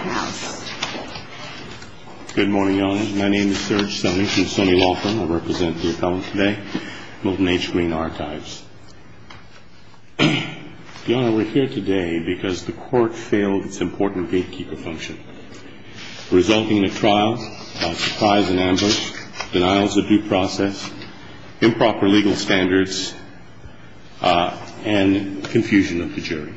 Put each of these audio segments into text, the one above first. House. Good morning, Your Honor. My name is Serge Stoney from Stoney Law Firm. I represent the appellant today, Milton H. Greene Archives. Your Honor, we're here today because the Court failed its important gatekeeper function, resulting in a trial, a surprise and ambush, denials of due process, improper legal standards, and confusion of the jury.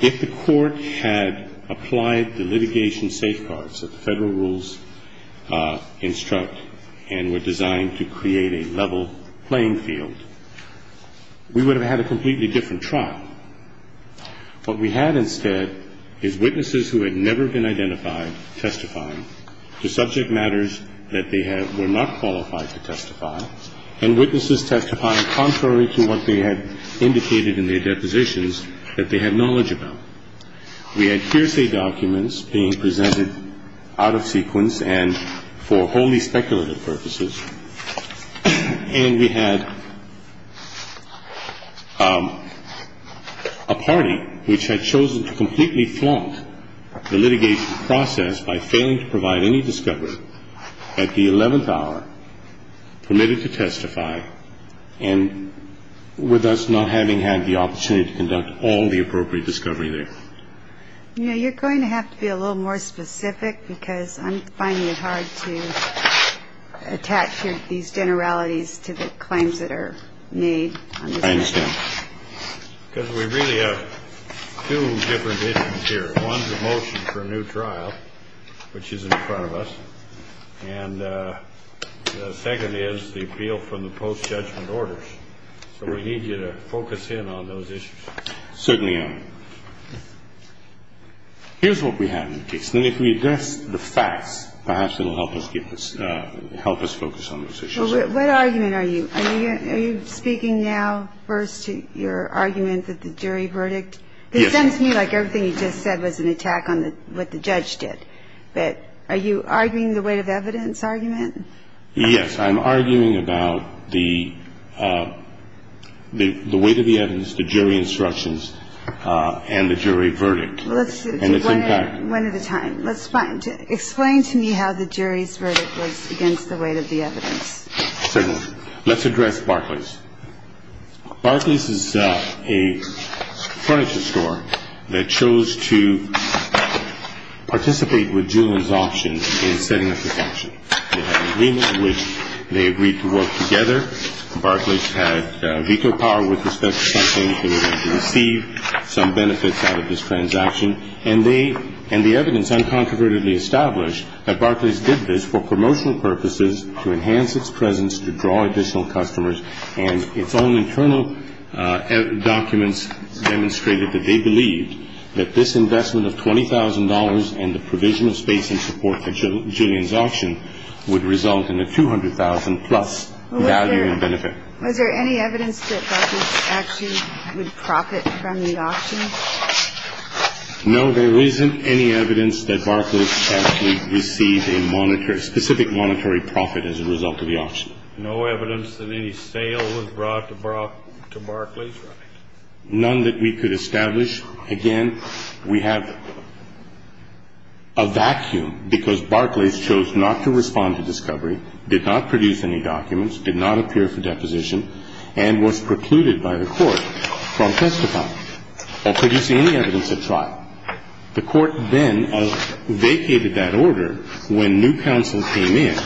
If the Court had applied the litigation safeguards that the Federal rules instruct and were designed to create a level playing field, we would have had a completely different trial. What we had instead is witnesses who had never been identified testifying to subject matters that they were not qualified to testify, and witnesses testifying contrary to what they had indicated in their depositions that they had knowledge about. We had hearsay documents being presented out of sequence and for wholly speculative purposes. And we had a party which had chosen to completely flaunt the litigation process by failing to provide any discovery at the 11th hour, permitted to testify, and with us not having had the opportunity to conduct all the appropriate discovery there. You know, you're going to have to be a little more specific because I'm finding it hard to attach these generalities to the claims that are made. I understand. Because we really have two different issues here. One's a motion for a new trial, which is in front of us, and the second is the appeal from the post-judgment orders. So we need you to focus in on those issues. Certainly, Your Honor. Here's what we have in the case. And if we address the facts, perhaps it will help us focus on those issues. Well, what argument are you? Are you speaking now first to your argument that the jury verdict? Yes. Because it sounds to me like everything you just said was an attack on what the judge did. But are you arguing the weight of evidence argument? Yes. I'm arguing about the weight of the evidence, the jury instructions, and the jury verdict. One at a time. Explain to me how the jury's verdict was against the weight of the evidence. Certainly. Let's address Barclays. Barclays is a furniture store that chose to participate with Julian's auction in setting up the function. They had an agreement in which they agreed to work together. Barclays had veto power with respect to something they were going to receive, some benefits out of this transaction. And the evidence uncontrovertedly established that Barclays did this for promotional purposes, to enhance its presence, to draw additional customers. And its own internal documents demonstrated that they believed that this investment of $20,000 and the provisional space and support for Julian's auction would result in a $200,000-plus value and benefit. Was there any evidence that Barclays actually would profit from the auction? No, there isn't any evidence that Barclays actually received a specific monetary profit as a result of the auction. No evidence that any sale was brought to Barclays? Right. None that we could establish. Again, we have a vacuum because Barclays chose not to respond to discovery, did not produce any documents, did not appear for deposition, and was precluded by the Court from testifying or producing any evidence at trial. The Court then vacated that order when new counsel came in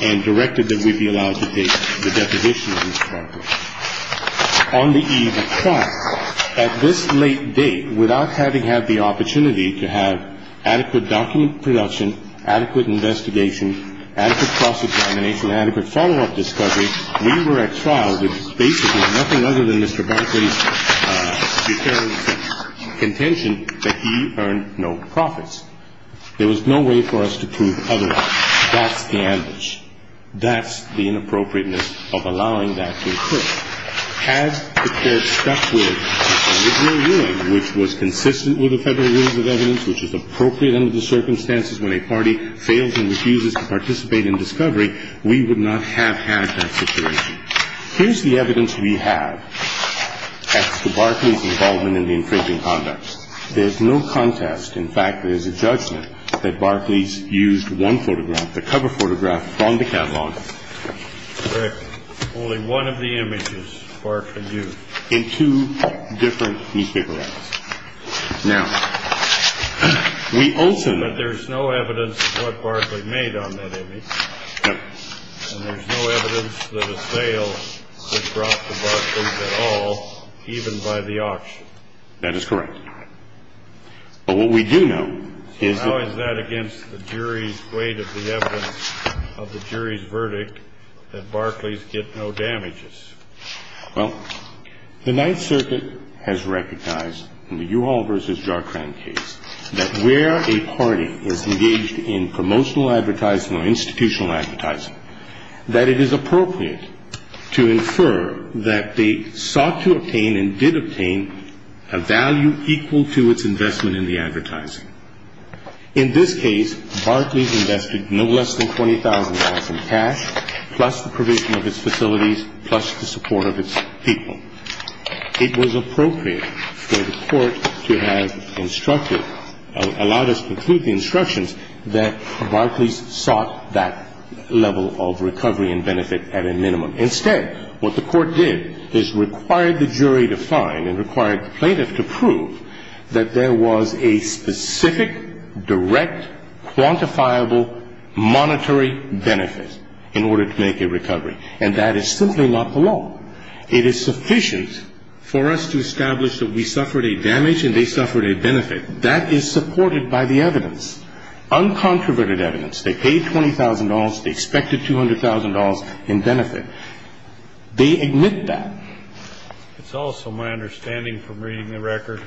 and directed that we be allowed to take the deposition of Mr. Barclays. On the eve of trial, at this late date, without having had the opportunity to have adequate document production, adequate investigation, adequate cross-examination, adequate follow-up discovery, we were at trial with basically nothing other than Mr. Barclays' deterrent contention that he earned no profits. There was no way for us to prove otherwise. That's the ambush. That's the inappropriateness of allowing that to occur. Had the Court stuck with the original ruling, which was consistent with the Federal Rules of Evidence, which is appropriate under the circumstances when a party fails and refuses to participate in discovery, we would not have had that situation. Here's the evidence we have as to Barclays' involvement in the infringing conducts. There's no contest. In fact, there's a judgment that Barclays used one photograph, the cover photograph, on the catalog. Correct. Only one of the images, Barclay used. In two different newspaper ads. Now, we also know that there's no evidence of what Barclay made on that image. No. And there's no evidence that a sale could drop to Barclays at all, even by the auction. That is correct. But what we do know is that... So how is that against the jury's weight of the evidence of the jury's verdict that Barclays get no damages? Well, the Ninth Circuit has recognized in the Uhal v. Jarkran case that where a party is engaged in promotional advertising or institutional advertising, that it is appropriate to infer that they sought to obtain and did obtain a value equal to its investment in the advertising. In this case, Barclays invested no less than $20,000 in cash, plus the provision of its facilities, plus the support of its people. It was appropriate for the court to have instructed, allowed us to include the instructions, that Barclays sought that level of recovery and benefit at a minimum. Instead, what the court did is required the jury to find and required the plaintiff to prove that there was a specific, direct, quantifiable, monetary benefit in order to make a recovery. And that is simply not the law. It is sufficient for us to establish that we suffered a damage and they suffered a benefit. That is supported by the evidence, uncontroverted evidence. They paid $20,000. They expected $200,000 in benefit. They admit that. It's also my understanding from reading the record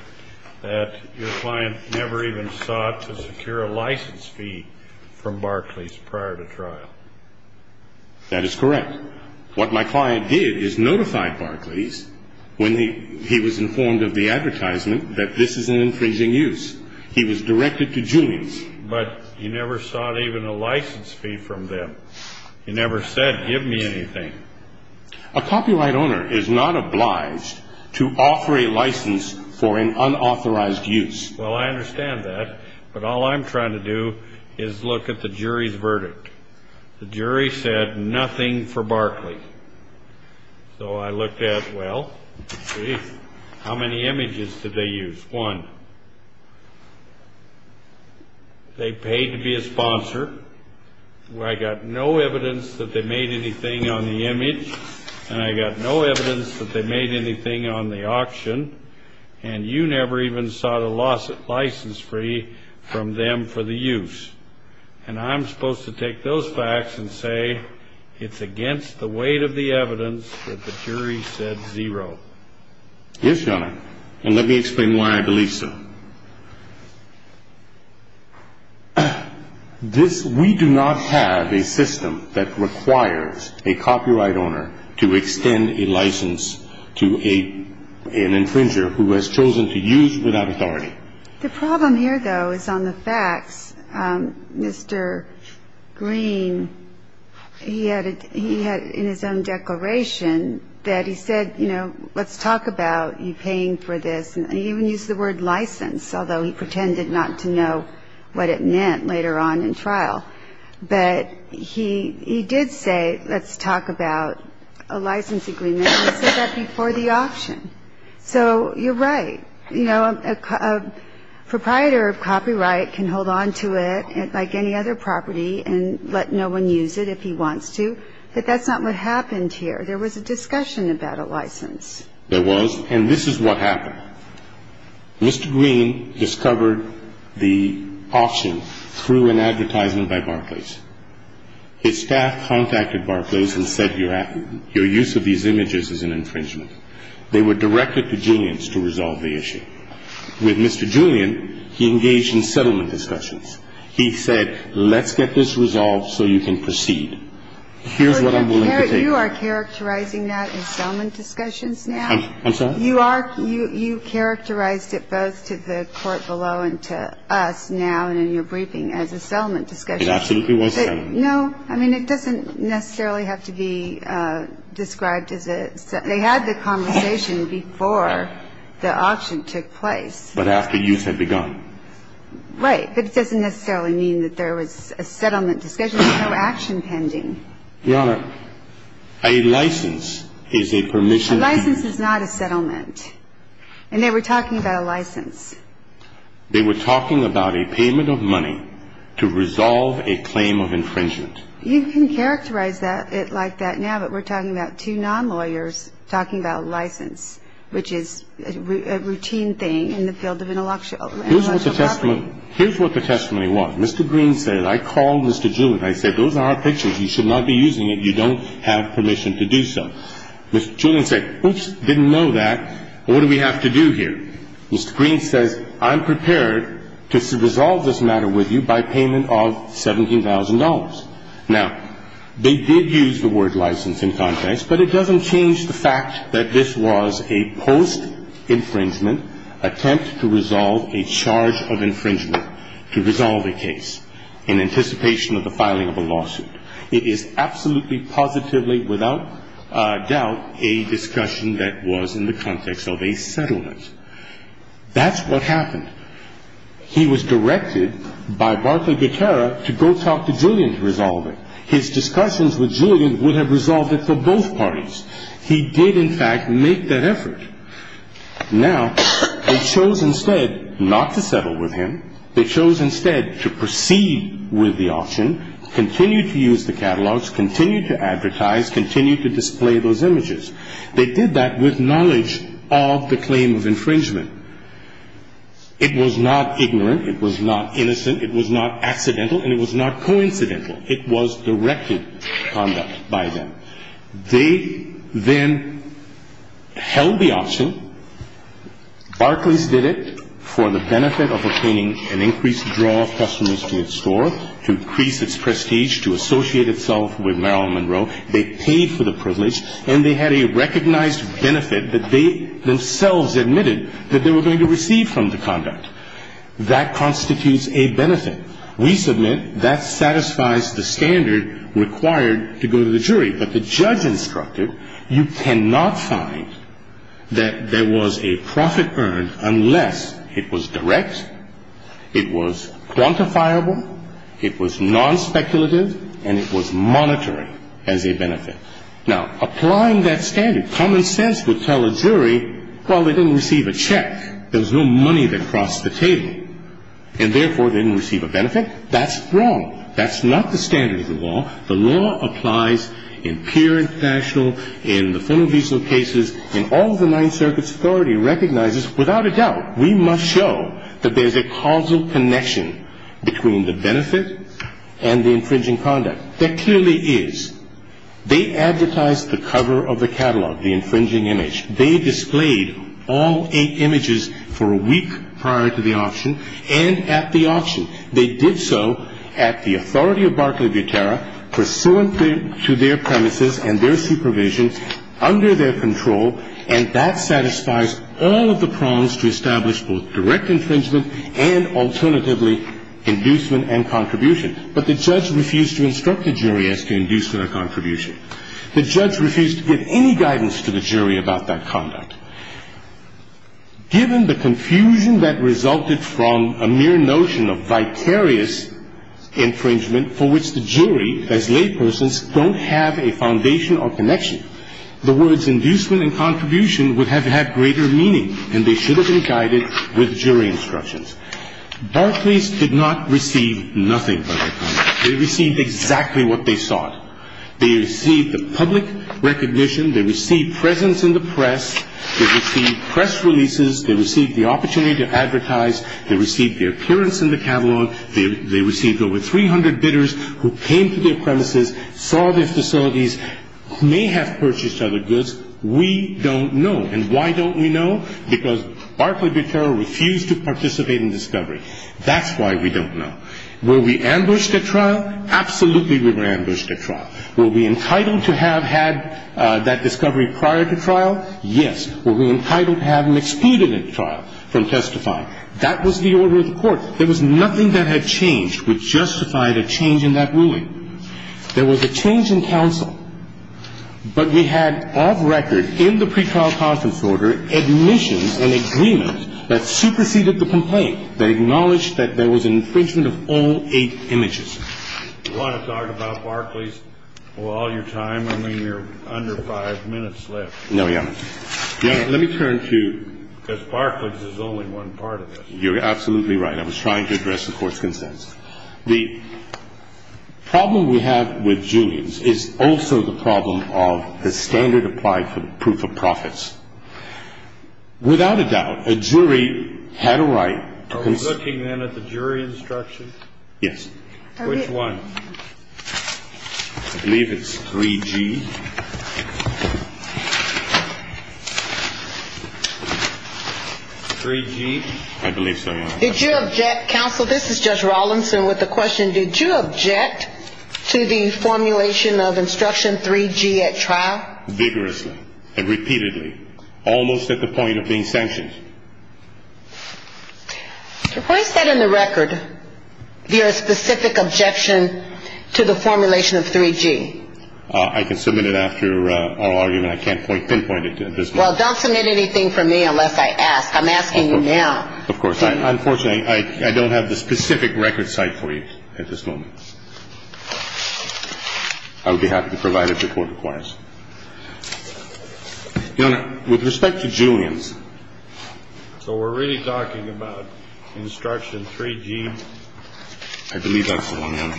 that your client never even sought to secure a license fee from Barclays prior to trial. That is correct. What my client did is notify Barclays when he was informed of the advertisement that this is an infringing use. He was directed to Julian's. But you never sought even a license fee from them. You never said, give me anything. A copyright owner is not obliged to offer a license for an unauthorized use. Well, I understand that. The jury said nothing for Barclays. So I looked at, well, how many images did they use? One. They paid to be a sponsor. I got no evidence that they made anything on the image. And I got no evidence that they made anything on the auction. And you never even sought a license fee from them for the use. And I'm supposed to take those facts and say it's against the weight of the evidence that the jury said zero. Yes, Your Honor. And let me explain why I believe so. This, we do not have a system that requires a copyright owner to extend a license to an infringer who has chosen to use without authority. The problem here, though, is on the facts. Mr. Green, he had in his own declaration that he said, you know, let's talk about you paying for this. He even used the word license, although he pretended not to know what it meant later on in trial. But he did say, let's talk about a license agreement. He said that before the auction. So you're right. You know, a proprietor of copyright can hold on to it like any other property and let no one use it if he wants to. But that's not what happened here. There was a discussion about a license. There was. And this is what happened. Mr. Green discovered the auction through an advertisement by Barclays. His staff contacted Barclays and said your use of these images is an infringement. They were directed to Julian's to resolve the issue. With Mr. Julian, he engaged in settlement discussions. He said, let's get this resolved so you can proceed. Here's what I'm willing to take on. You are characterizing that in settlement discussions now? I'm sorry? You are. You characterized it both to the court below and to us now and in your briefing as a settlement discussion. It absolutely was a settlement. No. I mean, it doesn't necessarily have to be described as a settlement. They had the conversation before the auction took place. But after use had begun. Right. But it doesn't necessarily mean that there was a settlement discussion. There was no action pending. Your Honor, a license is a permission. A license is not a settlement. And they were talking about a license. They were talking about a payment of money to resolve a claim of infringement. You can characterize it like that now, but we're talking about two non-lawyers talking about a license, which is a routine thing in the field of intellectual property. Here's what the testimony was. Mr. Green said, I called Mr. Julian. I said, those are our pictures. You should not be using it. You don't have permission to do so. Mr. Julian said, oops, didn't know that. What do we have to do here? Mr. Green says, I'm prepared to resolve this matter with you by payment of $17,000. Now, they did use the word license in context, but it doesn't change the fact that this was a post-infringement attempt to resolve a charge of infringement to resolve a case in anticipation of the filing of a lawsuit. It is absolutely positively, without doubt, a discussion that was in the context of a settlement. That's what happened. He was directed by Barclay Gutera to go talk to Julian to resolve it. His discussions with Julian would have resolved it for both parties. He did, in fact, make that effort. Now, they chose instead not to settle with him. They chose instead to proceed with the auction, continue to use the catalogs, continue to advertise, continue to display those images. They did that with knowledge of the claim of infringement. It was not ignorant. It was not innocent. It was not accidental, and it was not coincidental. It was directed conduct by them. They then held the auction. Barclays did it for the benefit of obtaining an increased draw of customers to its store, to increase its prestige, to associate itself with Marilyn Monroe. They paid for the privilege, and they had a recognized benefit that they themselves admitted that they were going to receive from the conduct. That constitutes a benefit. We submit that satisfies the standard required to go to the jury. But the judge instructed, you cannot find that there was a profit earned unless it was direct, it was quantifiable, it was non-speculative, and it was monetary as a benefit. Now, applying that standard, common sense would tell a jury, well, they didn't receive a check. There was no money that crossed the table, and therefore they didn't receive a benefit. That's wrong. That's not the standard of the law. The law applies in pure international, in the full and decent cases, and all of the Ninth Circuit's authority recognizes, without a doubt, we must show that there's a causal connection between the benefit and the infringing conduct. There clearly is. They advertised the cover of the catalog, the infringing image. They displayed all eight images for a week prior to the auction and at the auction. They did so at the authority of Barclay Butera, pursuant to their premises and their supervision, under their control, and that satisfies all of the prongs to establish both direct infringement and, alternatively, inducement and contribution. But the judge refused to instruct the jury as to inducement or contribution. The judge refused to give any guidance to the jury about that conduct. Given the confusion that resulted from a mere notion of vicarious infringement for which the jury, as laypersons, don't have a foundation or connection, the words inducement and contribution would have had greater meaning, and they should have been guided with jury instructions. Barclays did not receive nothing by their conduct. They received exactly what they sought. They received the public recognition. They received presence in the press. They received press releases. They received the opportunity to advertise. They received their appearance in the catalog. They received over 300 bidders who came to their premises, saw their facilities, may have purchased other goods. We don't know, and why don't we know? Because Barclay Butera refused to participate in discovery. That's why we don't know. Were we ambushed at trial? Absolutely we were ambushed at trial. Were we entitled to have had that discovery prior to trial? Yes. Were we entitled to have an expedient trial from testifying? That was the order of the court. There was nothing that had changed which justified a change in that ruling. There was a change in counsel, but we had, off record, in the pretrial conscience order, admissions and agreement that superseded the complaint. They acknowledged that there was an infringement of all eight images. You want to talk about Barclays for all your time? I mean, you're under five minutes left. No, Your Honor. Let me turn to, because Barclays is only one part of this. You're absolutely right. I was trying to address the court's consensus. The problem we have with Julian's is also the problem of the standard applied for proof of profits. Without a doubt, a jury had a right. Are we looking then at the jury instruction? Yes. Which one? I believe it's 3G. 3G? I believe so, Your Honor. Counsel, this is Judge Rawlinson with a question. Did you object to the formulation of instruction 3G at trial? Vigorously and repeatedly. Almost at the point of being sanctioned. Why is that in the record, your specific objection to the formulation of 3G? I can submit it after our argument. I can't pinpoint it at this moment. Well, don't submit anything for me unless I ask. I'm asking you now. Of course. Unfortunately, I don't have the specific record cite for you at this moment. I would be happy to provide it if your court requires. Your Honor, with respect to Julian's. So we're really talking about instruction 3G? I believe that's the one, Your Honor.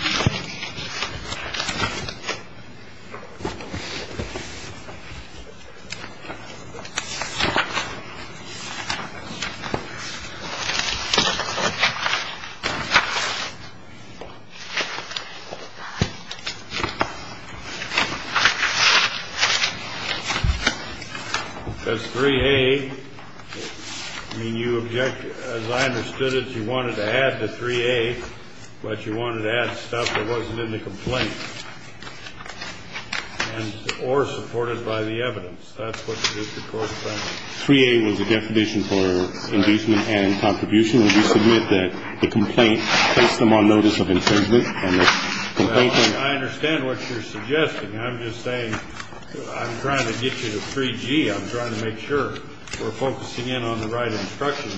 That's 3A. I mean, you object. As I understood it, you wanted to add to 3A. But you wanted to add stuff that wasn't in the complaint. Or supported by the evidence. That's what the court found. 3A was the definition for impeachment and contribution. We submit that the complaint placed them on notice of infringement. I understand what you're suggesting. I'm just saying I'm trying to get you to 3G. I'm trying to make sure we're focusing in on the right instruction.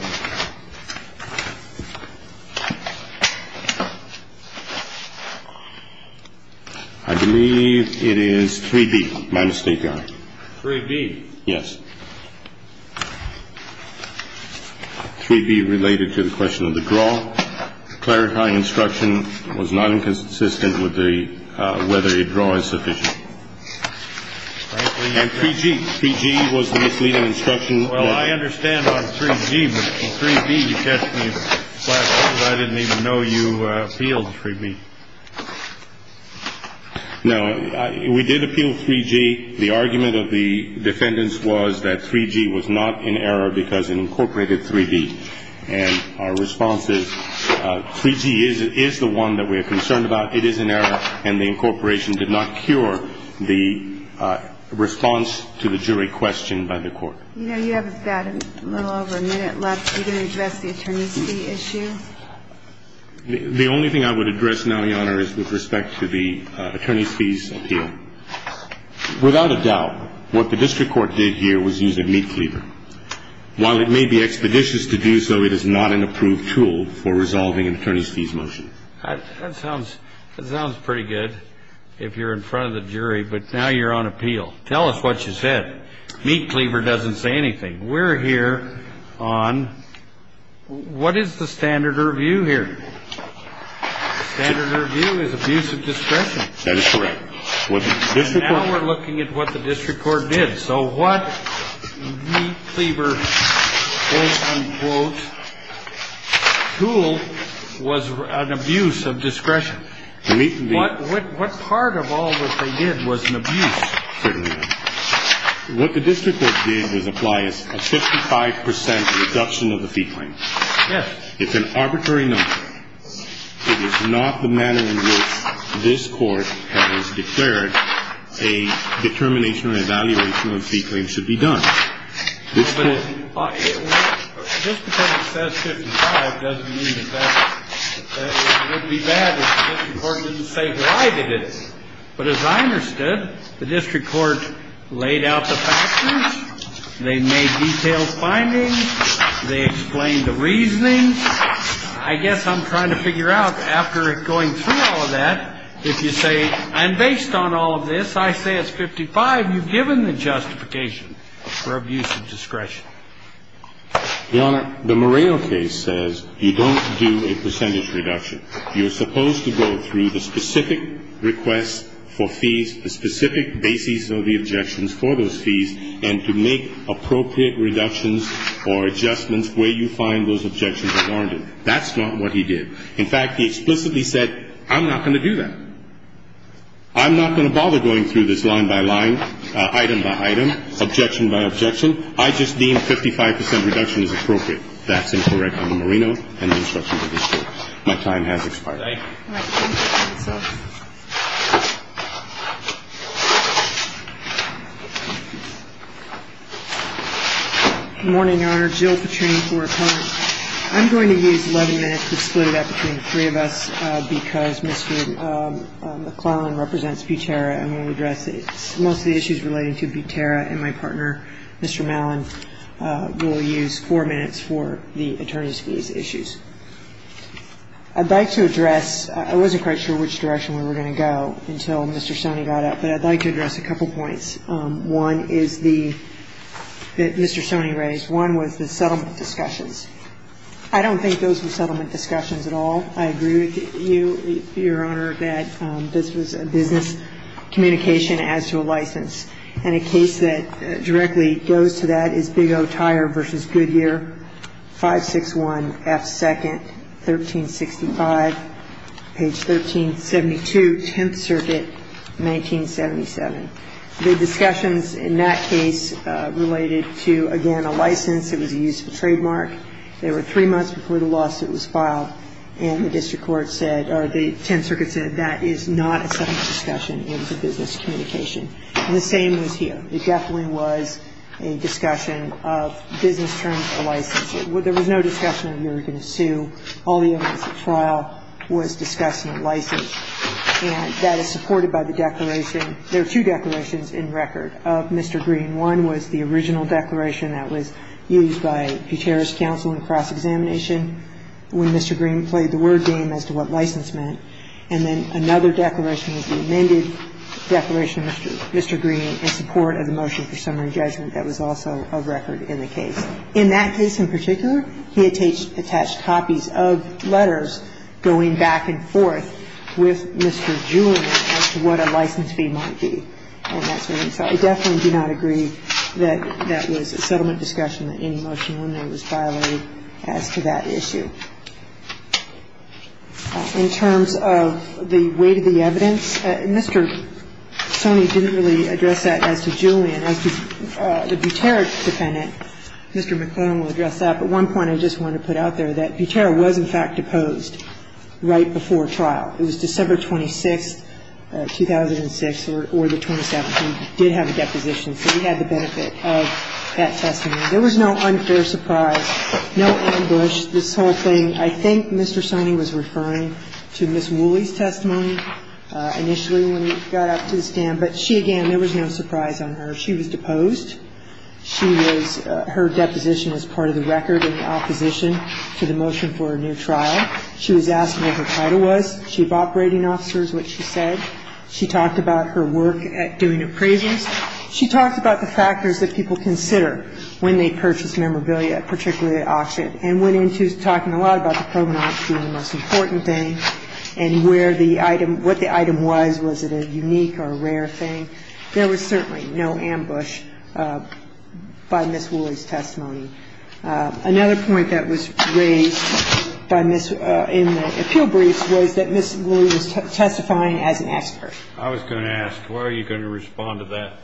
I believe it is 3B. My mistake, Your Honor. 3B? Yes. 3B related to the question of the draw. Clarifying instruction was not inconsistent with whether a draw is sufficient. And 3G. 3G was misleading instruction. Well, I understand on 3G. But 3B, you catch me by surprise. I didn't even know you appealed 3B. No. We did appeal 3G. The argument of the defendants was that 3G was not in error because it incorporated 3B. And our response is 3G is the one that we're concerned about. It is in error. And the incorporation did not cure the response to the jury question by the court. You know, you have a little over a minute left. Are you going to address the attorney's fee issue? The only thing I would address now, Your Honor, is with respect to the attorney's fees appeal. Without a doubt, what the district court did here was use a meat cleaver. While it may be expeditious to do so, it is not an approved tool for resolving an attorney's fees motion. That sounds pretty good if you're in front of the jury. But now you're on appeal. Tell us what you said. Meat cleaver doesn't say anything. We're here on what is the standard review here? Standard review is abuse of discretion. That is correct. And now we're looking at what the district court did. So what meat cleaver quote, unquote, tool was an abuse of discretion. What part of all that they did was an abuse? What the district court did was apply a 55 percent reduction of the fee claim. Yes. It's an arbitrary number. It is not the manner in which this Court has declared a determination or evaluation of a fee claim should be done. This Court. Just because it says 55 doesn't mean that that would be bad if the district court didn't say why they did it. But as I understood, the district court laid out the factors. They made detailed findings. They explained the reasonings. I guess I'm trying to figure out after going through all of that, if you say, and based on all of this, I say it's 55, you've given the justification for abuse of discretion. Your Honor, the Moreo case says you don't do a percentage reduction. You're supposed to go through the specific requests for fees, the specific basis of the objections for those fees, and to make appropriate reductions or adjustments where you find those objections are warranted. That's not what he did. In fact, he explicitly said, I'm not going to do that. I'm not going to bother going through this line by line, item by item, objection by objection. I just deem 55 percent reduction as appropriate. That's incorrect on the Moreno and the instructions of this Court. My time has expired. Thank you. Good morning, Your Honor. Jill Petrain for Attorney. I'm going to use 11 minutes to split it up between the three of us because Mr. McClellan represents Butera and will address most of the issues relating to Butera and my partner, Mr. Mallon, will use four minutes for the attorneys' fees issues. I'd like to address, I wasn't quite sure which direction we were going to go until Mr. Stoney got up, but I'd like to address a couple points. One is the, that Mr. Stoney raised. One was the settlement discussions. I don't think those were settlement discussions at all. I agree with you, Your Honor, that this was a business communication as to a license. And a case that directly goes to that is Big O Tire v. Goodyear, 561F2nd, 1365, page 1372, Tenth Circuit, 1977. The discussions in that case related to, again, a license. It was a use of a trademark. They were three months before the lawsuit was filed, and the district court said, or the Tenth Circuit said that is not a settlement discussion. It was a business communication. And the same was here. It definitely was a discussion of business terms of license. There was no discussion of you were going to sue. All the evidence at trial was discussing a license. And that is supported by the declaration. There are two declarations in record of Mr. Green. One was the original declaration that was used by Peteris Counsel in cross-examination when Mr. Green played the word game as to what license meant. And then another declaration was the amended declaration of Mr. Green in support of the motion for summary judgment that was also of record in the case. In that case in particular, he attached copies of letters going back and forth with Mr. Julian as to what a license fee might be. So I definitely do not agree that that was a settlement discussion, that any motion that was made by Mr. Green or Mr. McClellan was violated as to that issue. In terms of the weight of the evidence, Mr. Sony didn't really address that as to Julian. As to the Butera defendant, Mr. McClellan will address that. But one point I just want to put out there, that Butera was, in fact, deposed right before trial. It was December 26, 2006, or the 27th. He did have a deposition. So he had the benefit of that testimony. There was no unfair surprise, no ambush. This whole thing, I think Mr. Sony was referring to Ms. Wooley's testimony initially when we got up to the stand. But she, again, there was no surprise on her. She was deposed. She was her deposition was part of the record in opposition to the motion for a new trial. She was asked what her title was. She had operating officers, which she said. She talked about her work at doing appraisals. She talked about the factors that people consider when they purchase memorabilia, particularly at auction, and went into talking a lot about the provenance being the most important thing and where the item, what the item was, was it a unique or a rare thing. There was certainly no ambush by Ms. Wooley's testimony. Another point that was raised by Ms. ---- in the appeal briefs was that Ms. Wooley was testifying as an expert. I was going to ask, how are you going to respond to that?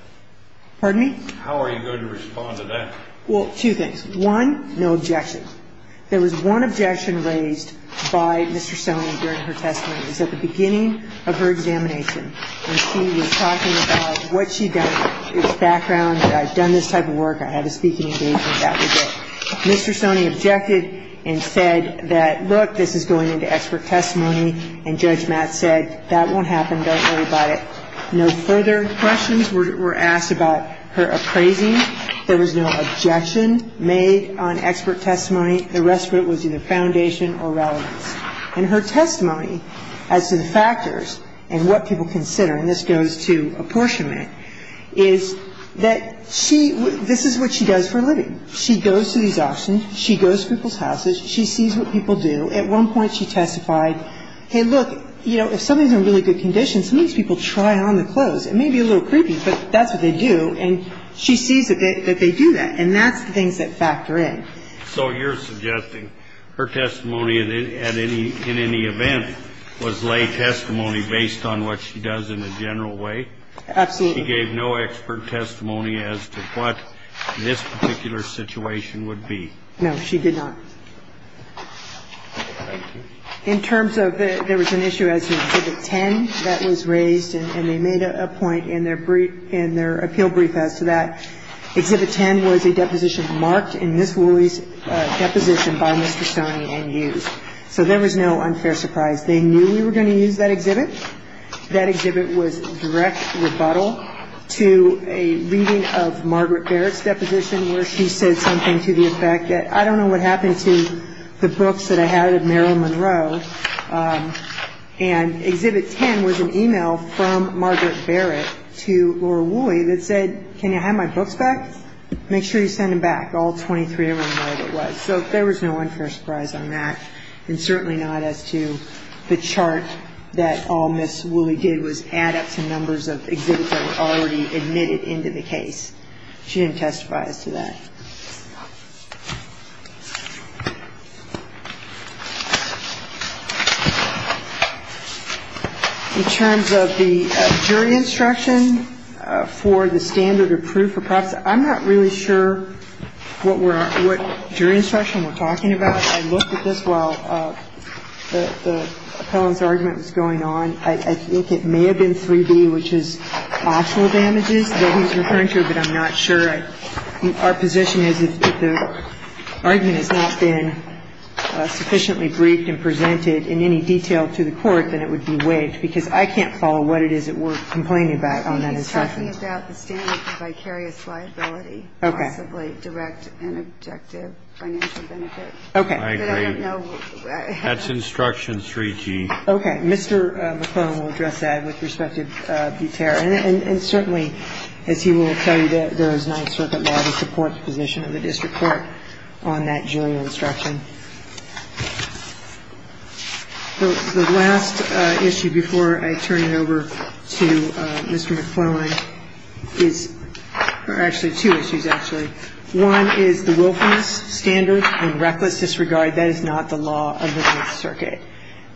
Pardon me? How are you going to respond to that? Well, two things. One, no objection. There was one objection raised by Mr. Sony during her testimony. It was at the beginning of her examination when she was talking about what she'd done. It was background. I've done this type of work. I have a speaking engagement. That was it. Mr. Sony objected and said that, look, this is going into expert testimony, and Judge Matt said that won't happen. Don't worry about it. No further questions were asked about her appraising. There was no objection made on expert testimony. The rest of it was either foundation or relevance. And her testimony as to the factors and what people consider, and this goes to apportionment, is that she ---- this is what she does for a living. She goes to these auctions. She goes to people's houses. She sees what people do. At one point she testified, hey, look, you know, if something's in really good condition, sometimes people try on the clothes. It may be a little creepy, but that's what they do. And she sees that they do that. And that's the things that factor in. So you're suggesting her testimony at any ---- in any event was lay testimony based on what she does in a general way? Absolutely. She gave no expert testimony as to what this particular situation would be. No, she did not. In terms of the ---- there was an issue as to Exhibit 10 that was raised, and they made a point in their brief ---- in their appeal brief as to that. Exhibit 10 was a deposition marked in Ms. Woolley's deposition by Mr. Stoney and used. So there was no unfair surprise. They knew we were going to use that exhibit. That exhibit was direct rebuttal to a reading of Margaret Barrett's deposition where she said something to the effect that I don't know what happened to the books that I had of Meryl Monroe. And Exhibit 10 was an e-mail from Margaret Barrett to Laura Woolley that said, can you have my books back? Make sure you send them back, all 23 of them. So there was no unfair surprise on that, and certainly not as to the chart that all Ms. Woolley did was add up some numbers of exhibits that were already admitted into the case. She didn't testify as to that. In terms of the jury instruction for the standard of proof of prophecy, I'm not really sure what jury instruction we're talking about. I looked at this while the appellant's argument was going on. I think it may have been 3B, which is optional damages that he's referring to, but I'm not sure. Our position is if the argument has not been sufficiently briefed and presented in any detail to the court, then it would be waived, because I can't follow what it is that we're complaining about on that assessment. He's talking about the standard of vicarious liability, possibly direct and objective financial benefit. I don't know. That's instruction 3G. Okay. Mr. McClellan will address that with respect to Buter. And certainly, as he will tell you, there is Ninth Circuit law that supports the position of the district court on that jury instruction. The last issue before I turn it over to Mr. McClellan is actually two issues, actually. One is the wilfulness standard and reckless disregard. That is not the law of the Ninth Circuit.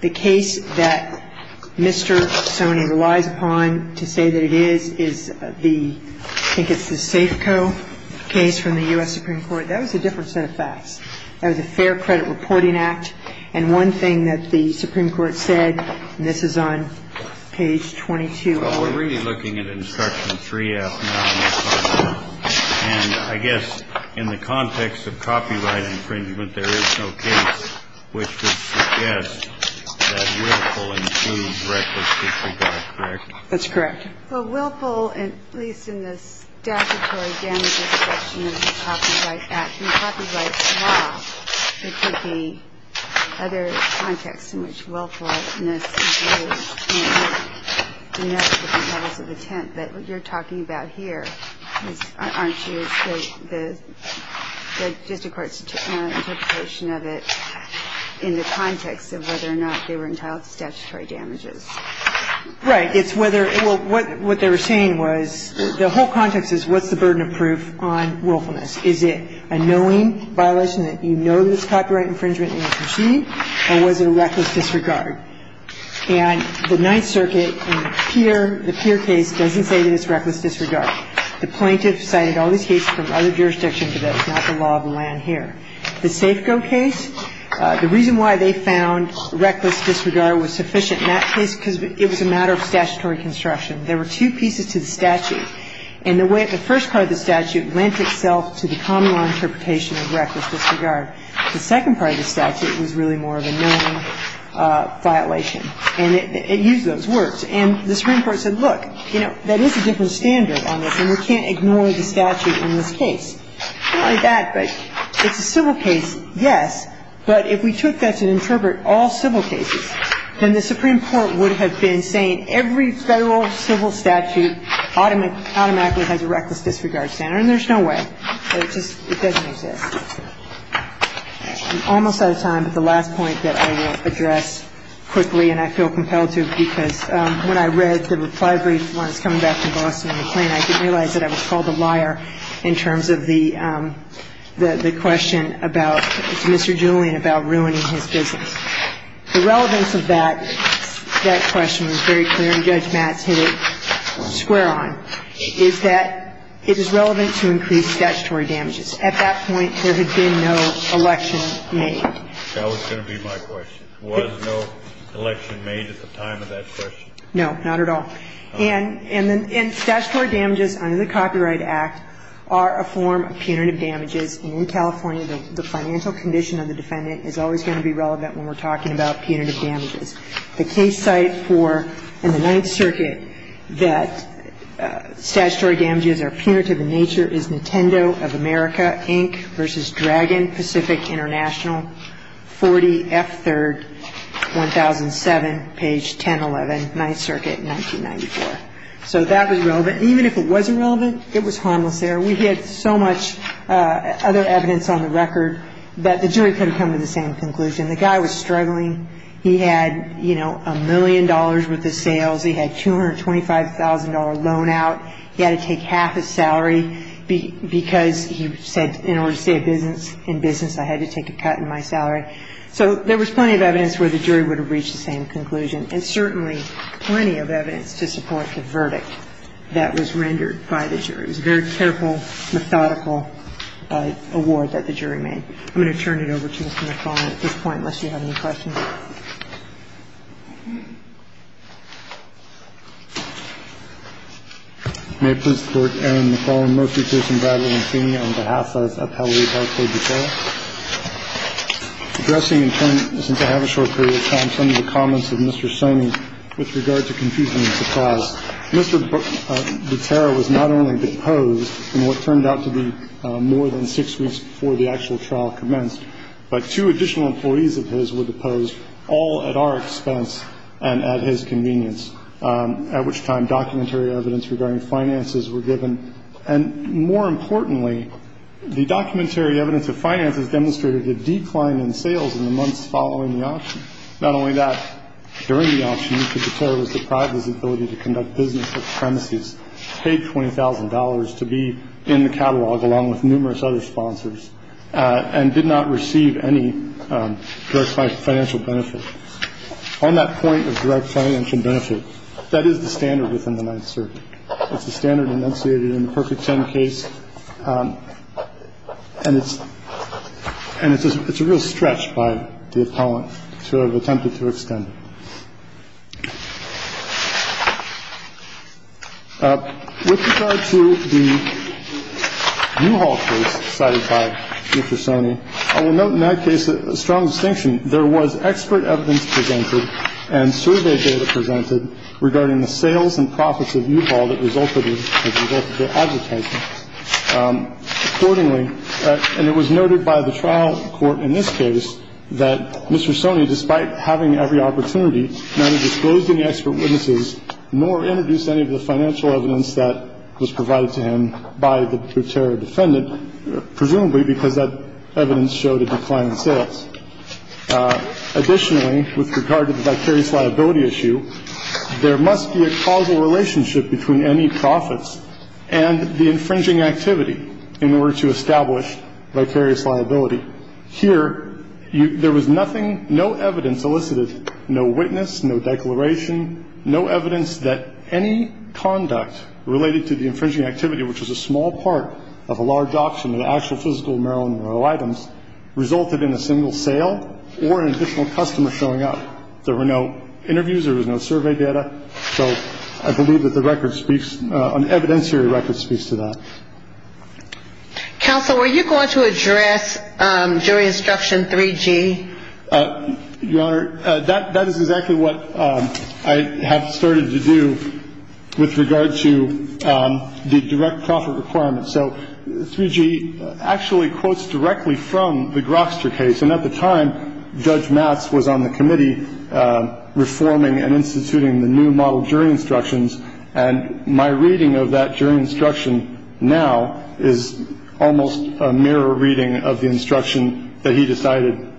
The case that Mr. Soney relies upon to say that it is, is the – I think it's the Safeco case from the U.S. Supreme Court. That was a different set of facts. That was a fair credit reporting act. And one thing that the Supreme Court said, and this is on page 22. Well, we're really looking at instruction 3F now. And I guess in the context of copyright infringement, there is no case which would suggest that willful and reckless disregard. Correct? That's correct. Well, willful, at least in the statutory damages section of the Copyright Act and Copyright It would be other contexts in which willfulness is used in the different levels of attempt. But what you're talking about here, aren't you, is the district court's interpretation of it in the context of whether or not they were entitled to statutory damages. Right. It's whether – well, what they were saying was the whole context is what's the burden of proof on willfulness? Is it a knowing violation that you know that it's copyright infringement and you'll proceed, or was it a reckless disregard? And the Ninth Circuit in the Peer, the Peer case, doesn't say that it's reckless disregard. The plaintiff cited all these cases from other jurisdictions, but that's not the law of the land here. The Safeco case, the reason why they found reckless disregard was sufficient in that case because it was a matter of statutory construction. There were two pieces to the statute. And the way the first part of the statute lent itself to the common law interpretation of reckless disregard. The second part of the statute was really more of a knowing violation. And it used those words. And the Supreme Court said, look, you know, that is a different standard on this, and we can't ignore the statute in this case. Not only that, but it's a civil case, yes, but if we took that to interpret all civil cases, then the Supreme Court would have been saying every Federal civil statute automatically has a reckless disregard standard. And there's no way. It just doesn't exist. I'm almost out of time, but the last point that I will address quickly, and I feel compelled to because when I read the reply brief when I was coming back from Boston and McLean, I didn't realize that I was called a liar in terms of the question about Mr. Julian about ruining his business. The relevance of that question was very clear, and Judge Matz hit it square on, is that it is relevant to increase statutory damages. At that point, there had been no election made. That was going to be my question. Was no election made at the time of that question? No, not at all. And statutory damages under the Copyright Act are a form of punitive damages. And in California, the financial condition of the defendant is always going to be what we're talking about, punitive damages. The case site for, in the Ninth Circuit, that statutory damages are punitive in nature is Nintendo of America, Inc. v. Dragon Pacific International, 40F3rd, 1007, page 1011, Ninth Circuit, 1994. So that was relevant. And even if it wasn't relevant, it was harmless there. We had so much other evidence on the record that the jury couldn't come to the same conclusion. The guy was struggling. He had, you know, a million dollars worth of sales. He had a $225,000 loan out. He had to take half his salary because he said in order to stay in business, I had to take a cut in my salary. So there was plenty of evidence where the jury would have reached the same conclusion, and certainly plenty of evidence to support the verdict that was rendered by the jury. It was a very careful, methodical award that the jury made. I'm going to turn it over to Mr. McClellan at this point, unless you have any questions. May it please the Court. Aaron McClellan, Murphy, Pearson, Bradley, and Cini on behalf of Appellee Barclay-Butera. Addressing in turn, since I have a short period of time, some of the comments of Mr. Sonny with regard to confusion and surprise, Mr. Butera was not only deposed in what turned out to be more than six weeks before the actual trial commenced, but two additional employees of his were deposed, all at our expense and at his convenience, at which time documentary evidence regarding finances were given. And more importantly, the documentary evidence of finances demonstrated a decline in sales in the months following the auction. Not only that, during the auction, Mr. Butera was deprived of his ability to conduct business with premises, paid $20,000 to be in the catalog, along with numerous other sponsors, and did not receive any direct financial benefit. On that point of direct financial benefit, that is the standard within the Ninth Circuit. It's the standard enunciated in the Perfect Ten case. And it's and it's a it's a real stretch by the appellant to have attempted to extend. With regard to the U-Haul case cited by Mr. Sonny, I will note in that case a strong distinction. There was expert evidence presented and survey data presented regarding the sales and profits of U-Haul that resulted as a result of their advertising. Accordingly, and it was noted by the trial court in this case that Mr. Sonny, despite having every opportunity, neither disclosed any expert witnesses, nor introduced any of the financial evidence that was provided to him by the Butera defendant, Additionally, with regard to the vicarious liability issue, there must be a causal relationship between any profits and the infringing activity in order to establish vicarious liability. Here, there was nothing, no evidence elicited, no witness, no declaration, no evidence that any conduct related to the infringing activity, which was a small part of a large auction of the actual physical Marilyn Monroe items, resulted in a single sale or an additional customer showing up. There were no interviews. There was no survey data. So I believe that the record speaks, an evidentiary record speaks to that. Counsel, were you going to address jury instruction 3G? Your Honor, that is exactly what I have started to do with regard to the direct profit requirement. So 3G actually quotes directly from the Grokster case. And at the time, Judge Matz was on the committee reforming and instituting the new model jury instructions. And my reading of that jury instruction now is almost a mirror reading of the instruction that he decided to put forward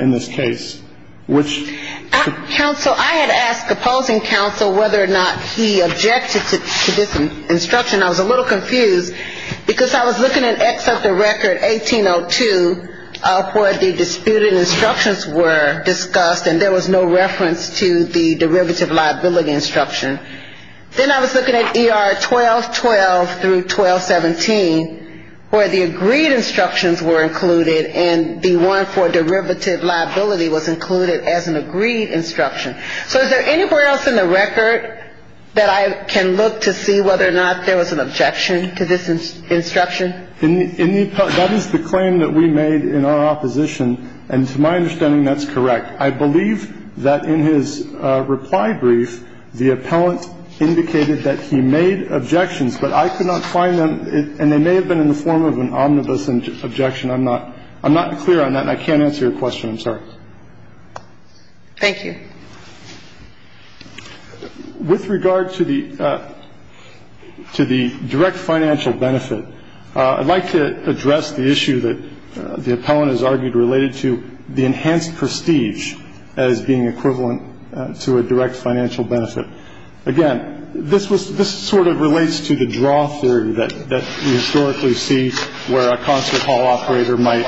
in this case. Counsel, I had asked opposing counsel whether or not he objected to this instruction. I was a little confused because I was looking at X of the record 1802 where the disputed instructions were discussed and there was no reference to the derivative liability instruction. Then I was looking at ER 1212 through 1217 where the agreed instructions were included and the one for derivative liability was included as an agreed instruction. So is there anywhere else in the record that I can look to see whether or not there was an objection to this instruction? That is the claim that we made in our opposition. And to my understanding, that's correct. I believe that in his reply brief, the appellant indicated that he made objections, but I could not find them. And they may have been in the form of an omnibus objection. I'm not clear on that and I can't answer your question, I'm sorry. Thank you. With regard to the direct financial benefit, I'd like to address the issue that the appellant has argued related to the enhanced prestige as being equivalent to a direct financial benefit. Again, this was this sort of relates to the draw theory that we historically see where a concert hall operator might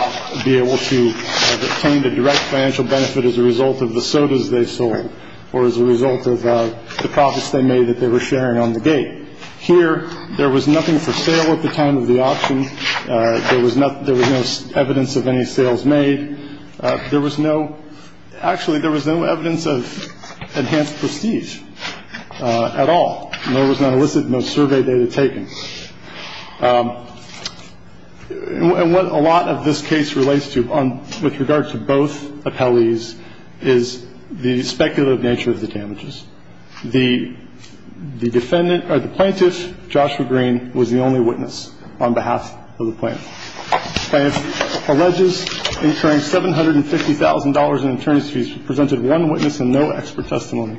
be able to obtain the direct financial benefit as a result of the sodas they sold or as a result of the profits they made that they were sharing on the gate here. There was nothing for sale at the time of the auction. There was not there was no evidence of any sales made. There was no actually there was no evidence of enhanced prestige at all. There was no survey data taken. And what a lot of this case relates to with regard to both appellees is the speculative nature of the damages. The defendant or the plaintiff, Joshua Green, was the only witness on behalf of the plaintiff. I have alleges incurring $750,000 in attorney's fees, presented one witness and no expert testimony.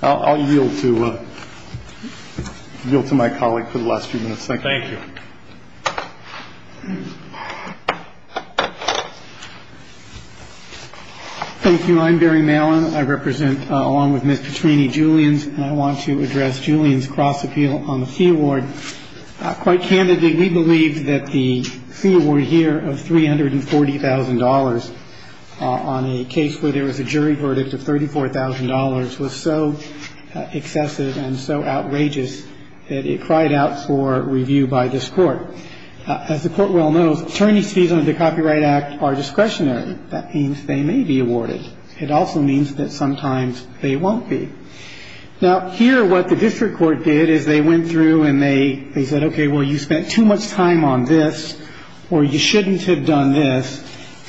I'll yield to you to my colleague for the last few minutes. Thank you. Thank you. I'm Barry Malin. I represent, along with Miss Petrini, Julian's. And I want to address Julian's cross appeal on the fee award. Quite candidly, we believe that the fee award here of $340,000 on a case where there was a jury verdict of $34,000 was so excessive and so outrageous that it cried out for review by this court. As the court well knows, attorney's fees under the Copyright Act are discretionary. That means they may be awarded. It also means that sometimes they won't be. Now, here what the district court did is they went through and they said, okay, well, you spent too much time on this or you shouldn't have done this.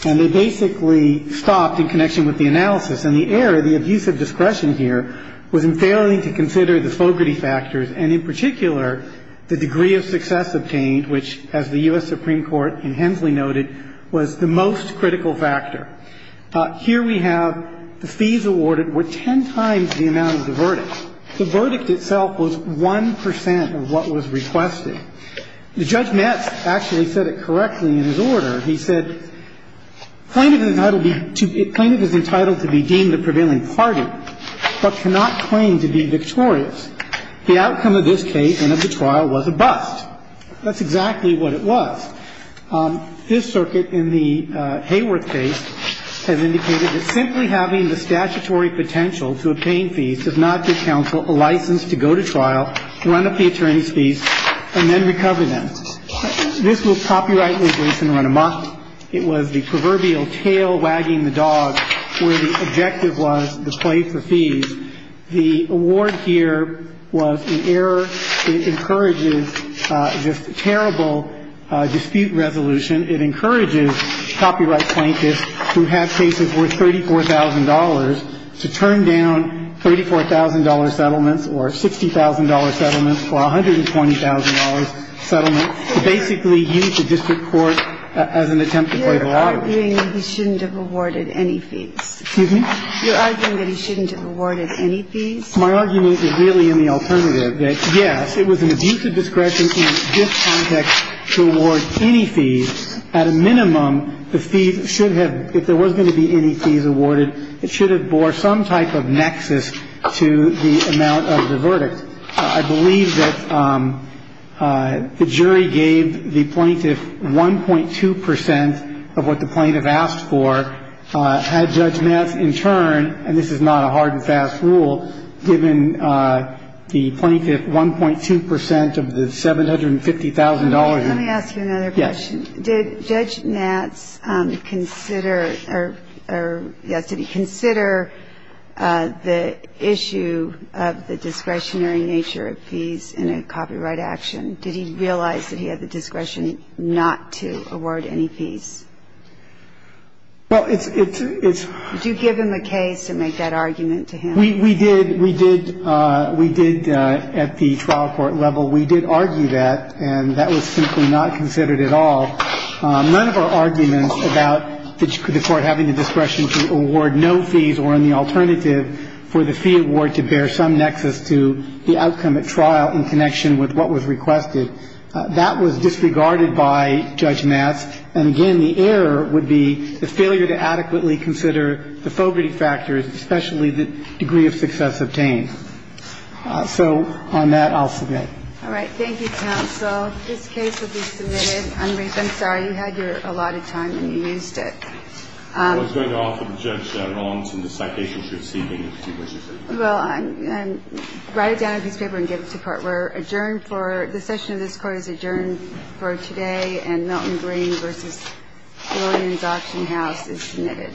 And they basically stopped in connection with the analysis. And the error, the abuse of discretion here, was in failing to consider the fogarty factors, and in particular, the degree of success obtained, which, as the U.S. Supreme Court in Hensley noted, was the most critical factor. Here we have the fees awarded were ten times the amount of the verdict. The verdict itself was 1 percent of what was requested. Judge Metz actually said it correctly in his order. He said, Plaintiff is entitled to be deemed a prevailing party, but cannot claim to be victorious. The outcome of this case and of the trial was a bust. That's exactly what it was. This circuit in the Hayworth case has indicated that simply having the statutory potential to obtain fees, does not give counsel a license to go to trial, run up the attorney's fees, and then recover them. This was copyright legal and run amok. It was the proverbial tail wagging the dog where the objective was to pay for fees. The award here was an error. It encourages just terrible dispute resolution. It encourages copyright plaintiffs who have cases worth $34,000 to turn down $34,000 settlements or $60,000 settlements or $120,000 settlements to basically use the district court as an attempt to play the lottery. You're arguing that he shouldn't have awarded any fees. Excuse me? You're arguing that he shouldn't have awarded any fees. My argument is really in the alternative. Yes, it was an abusive discretion in this context to award any fees. At a minimum, the fees should have, if there was going to be any fees awarded, it should have bore some type of nexus to the amount of the verdict. I believe that the jury gave the plaintiff 1.2 percent of what the plaintiff asked for. Had Judge Nats in turn, and this is not a hard and fast rule, given the plaintiff 1.2 percent of the $750,000. Let me ask you another question. Yes. Did Judge Nats consider or yes, did he consider the issue of the discretionary nature of fees in a copyright action? Did he realize that he had the discretion not to award any fees? Well, it's — Did you give him a case and make that argument to him? We did. We did. We did at the trial court level. We did argue that, and that was simply not considered at all. None of our arguments about the court having the discretion to award no fees were in the alternative for the fee award to bear some nexus to the outcome at trial in connection with what was requested. That was disregarded by Judge Nats. And, again, the error would be the failure to adequately consider the fogety factors, especially the degree of success obtained. So on that, I'll submit. All right. Thank you, counsel. This case will be submitted. And, Ruth, I'm sorry. You had your allotted time, and you used it. I was going to offer the judge an allowance in the citations you're receiving. Well, write it down in a piece of paper and give it to court. We're adjourned for — the session of this court is adjourned for today. And Melton Green v. Williams Auction House is submitted.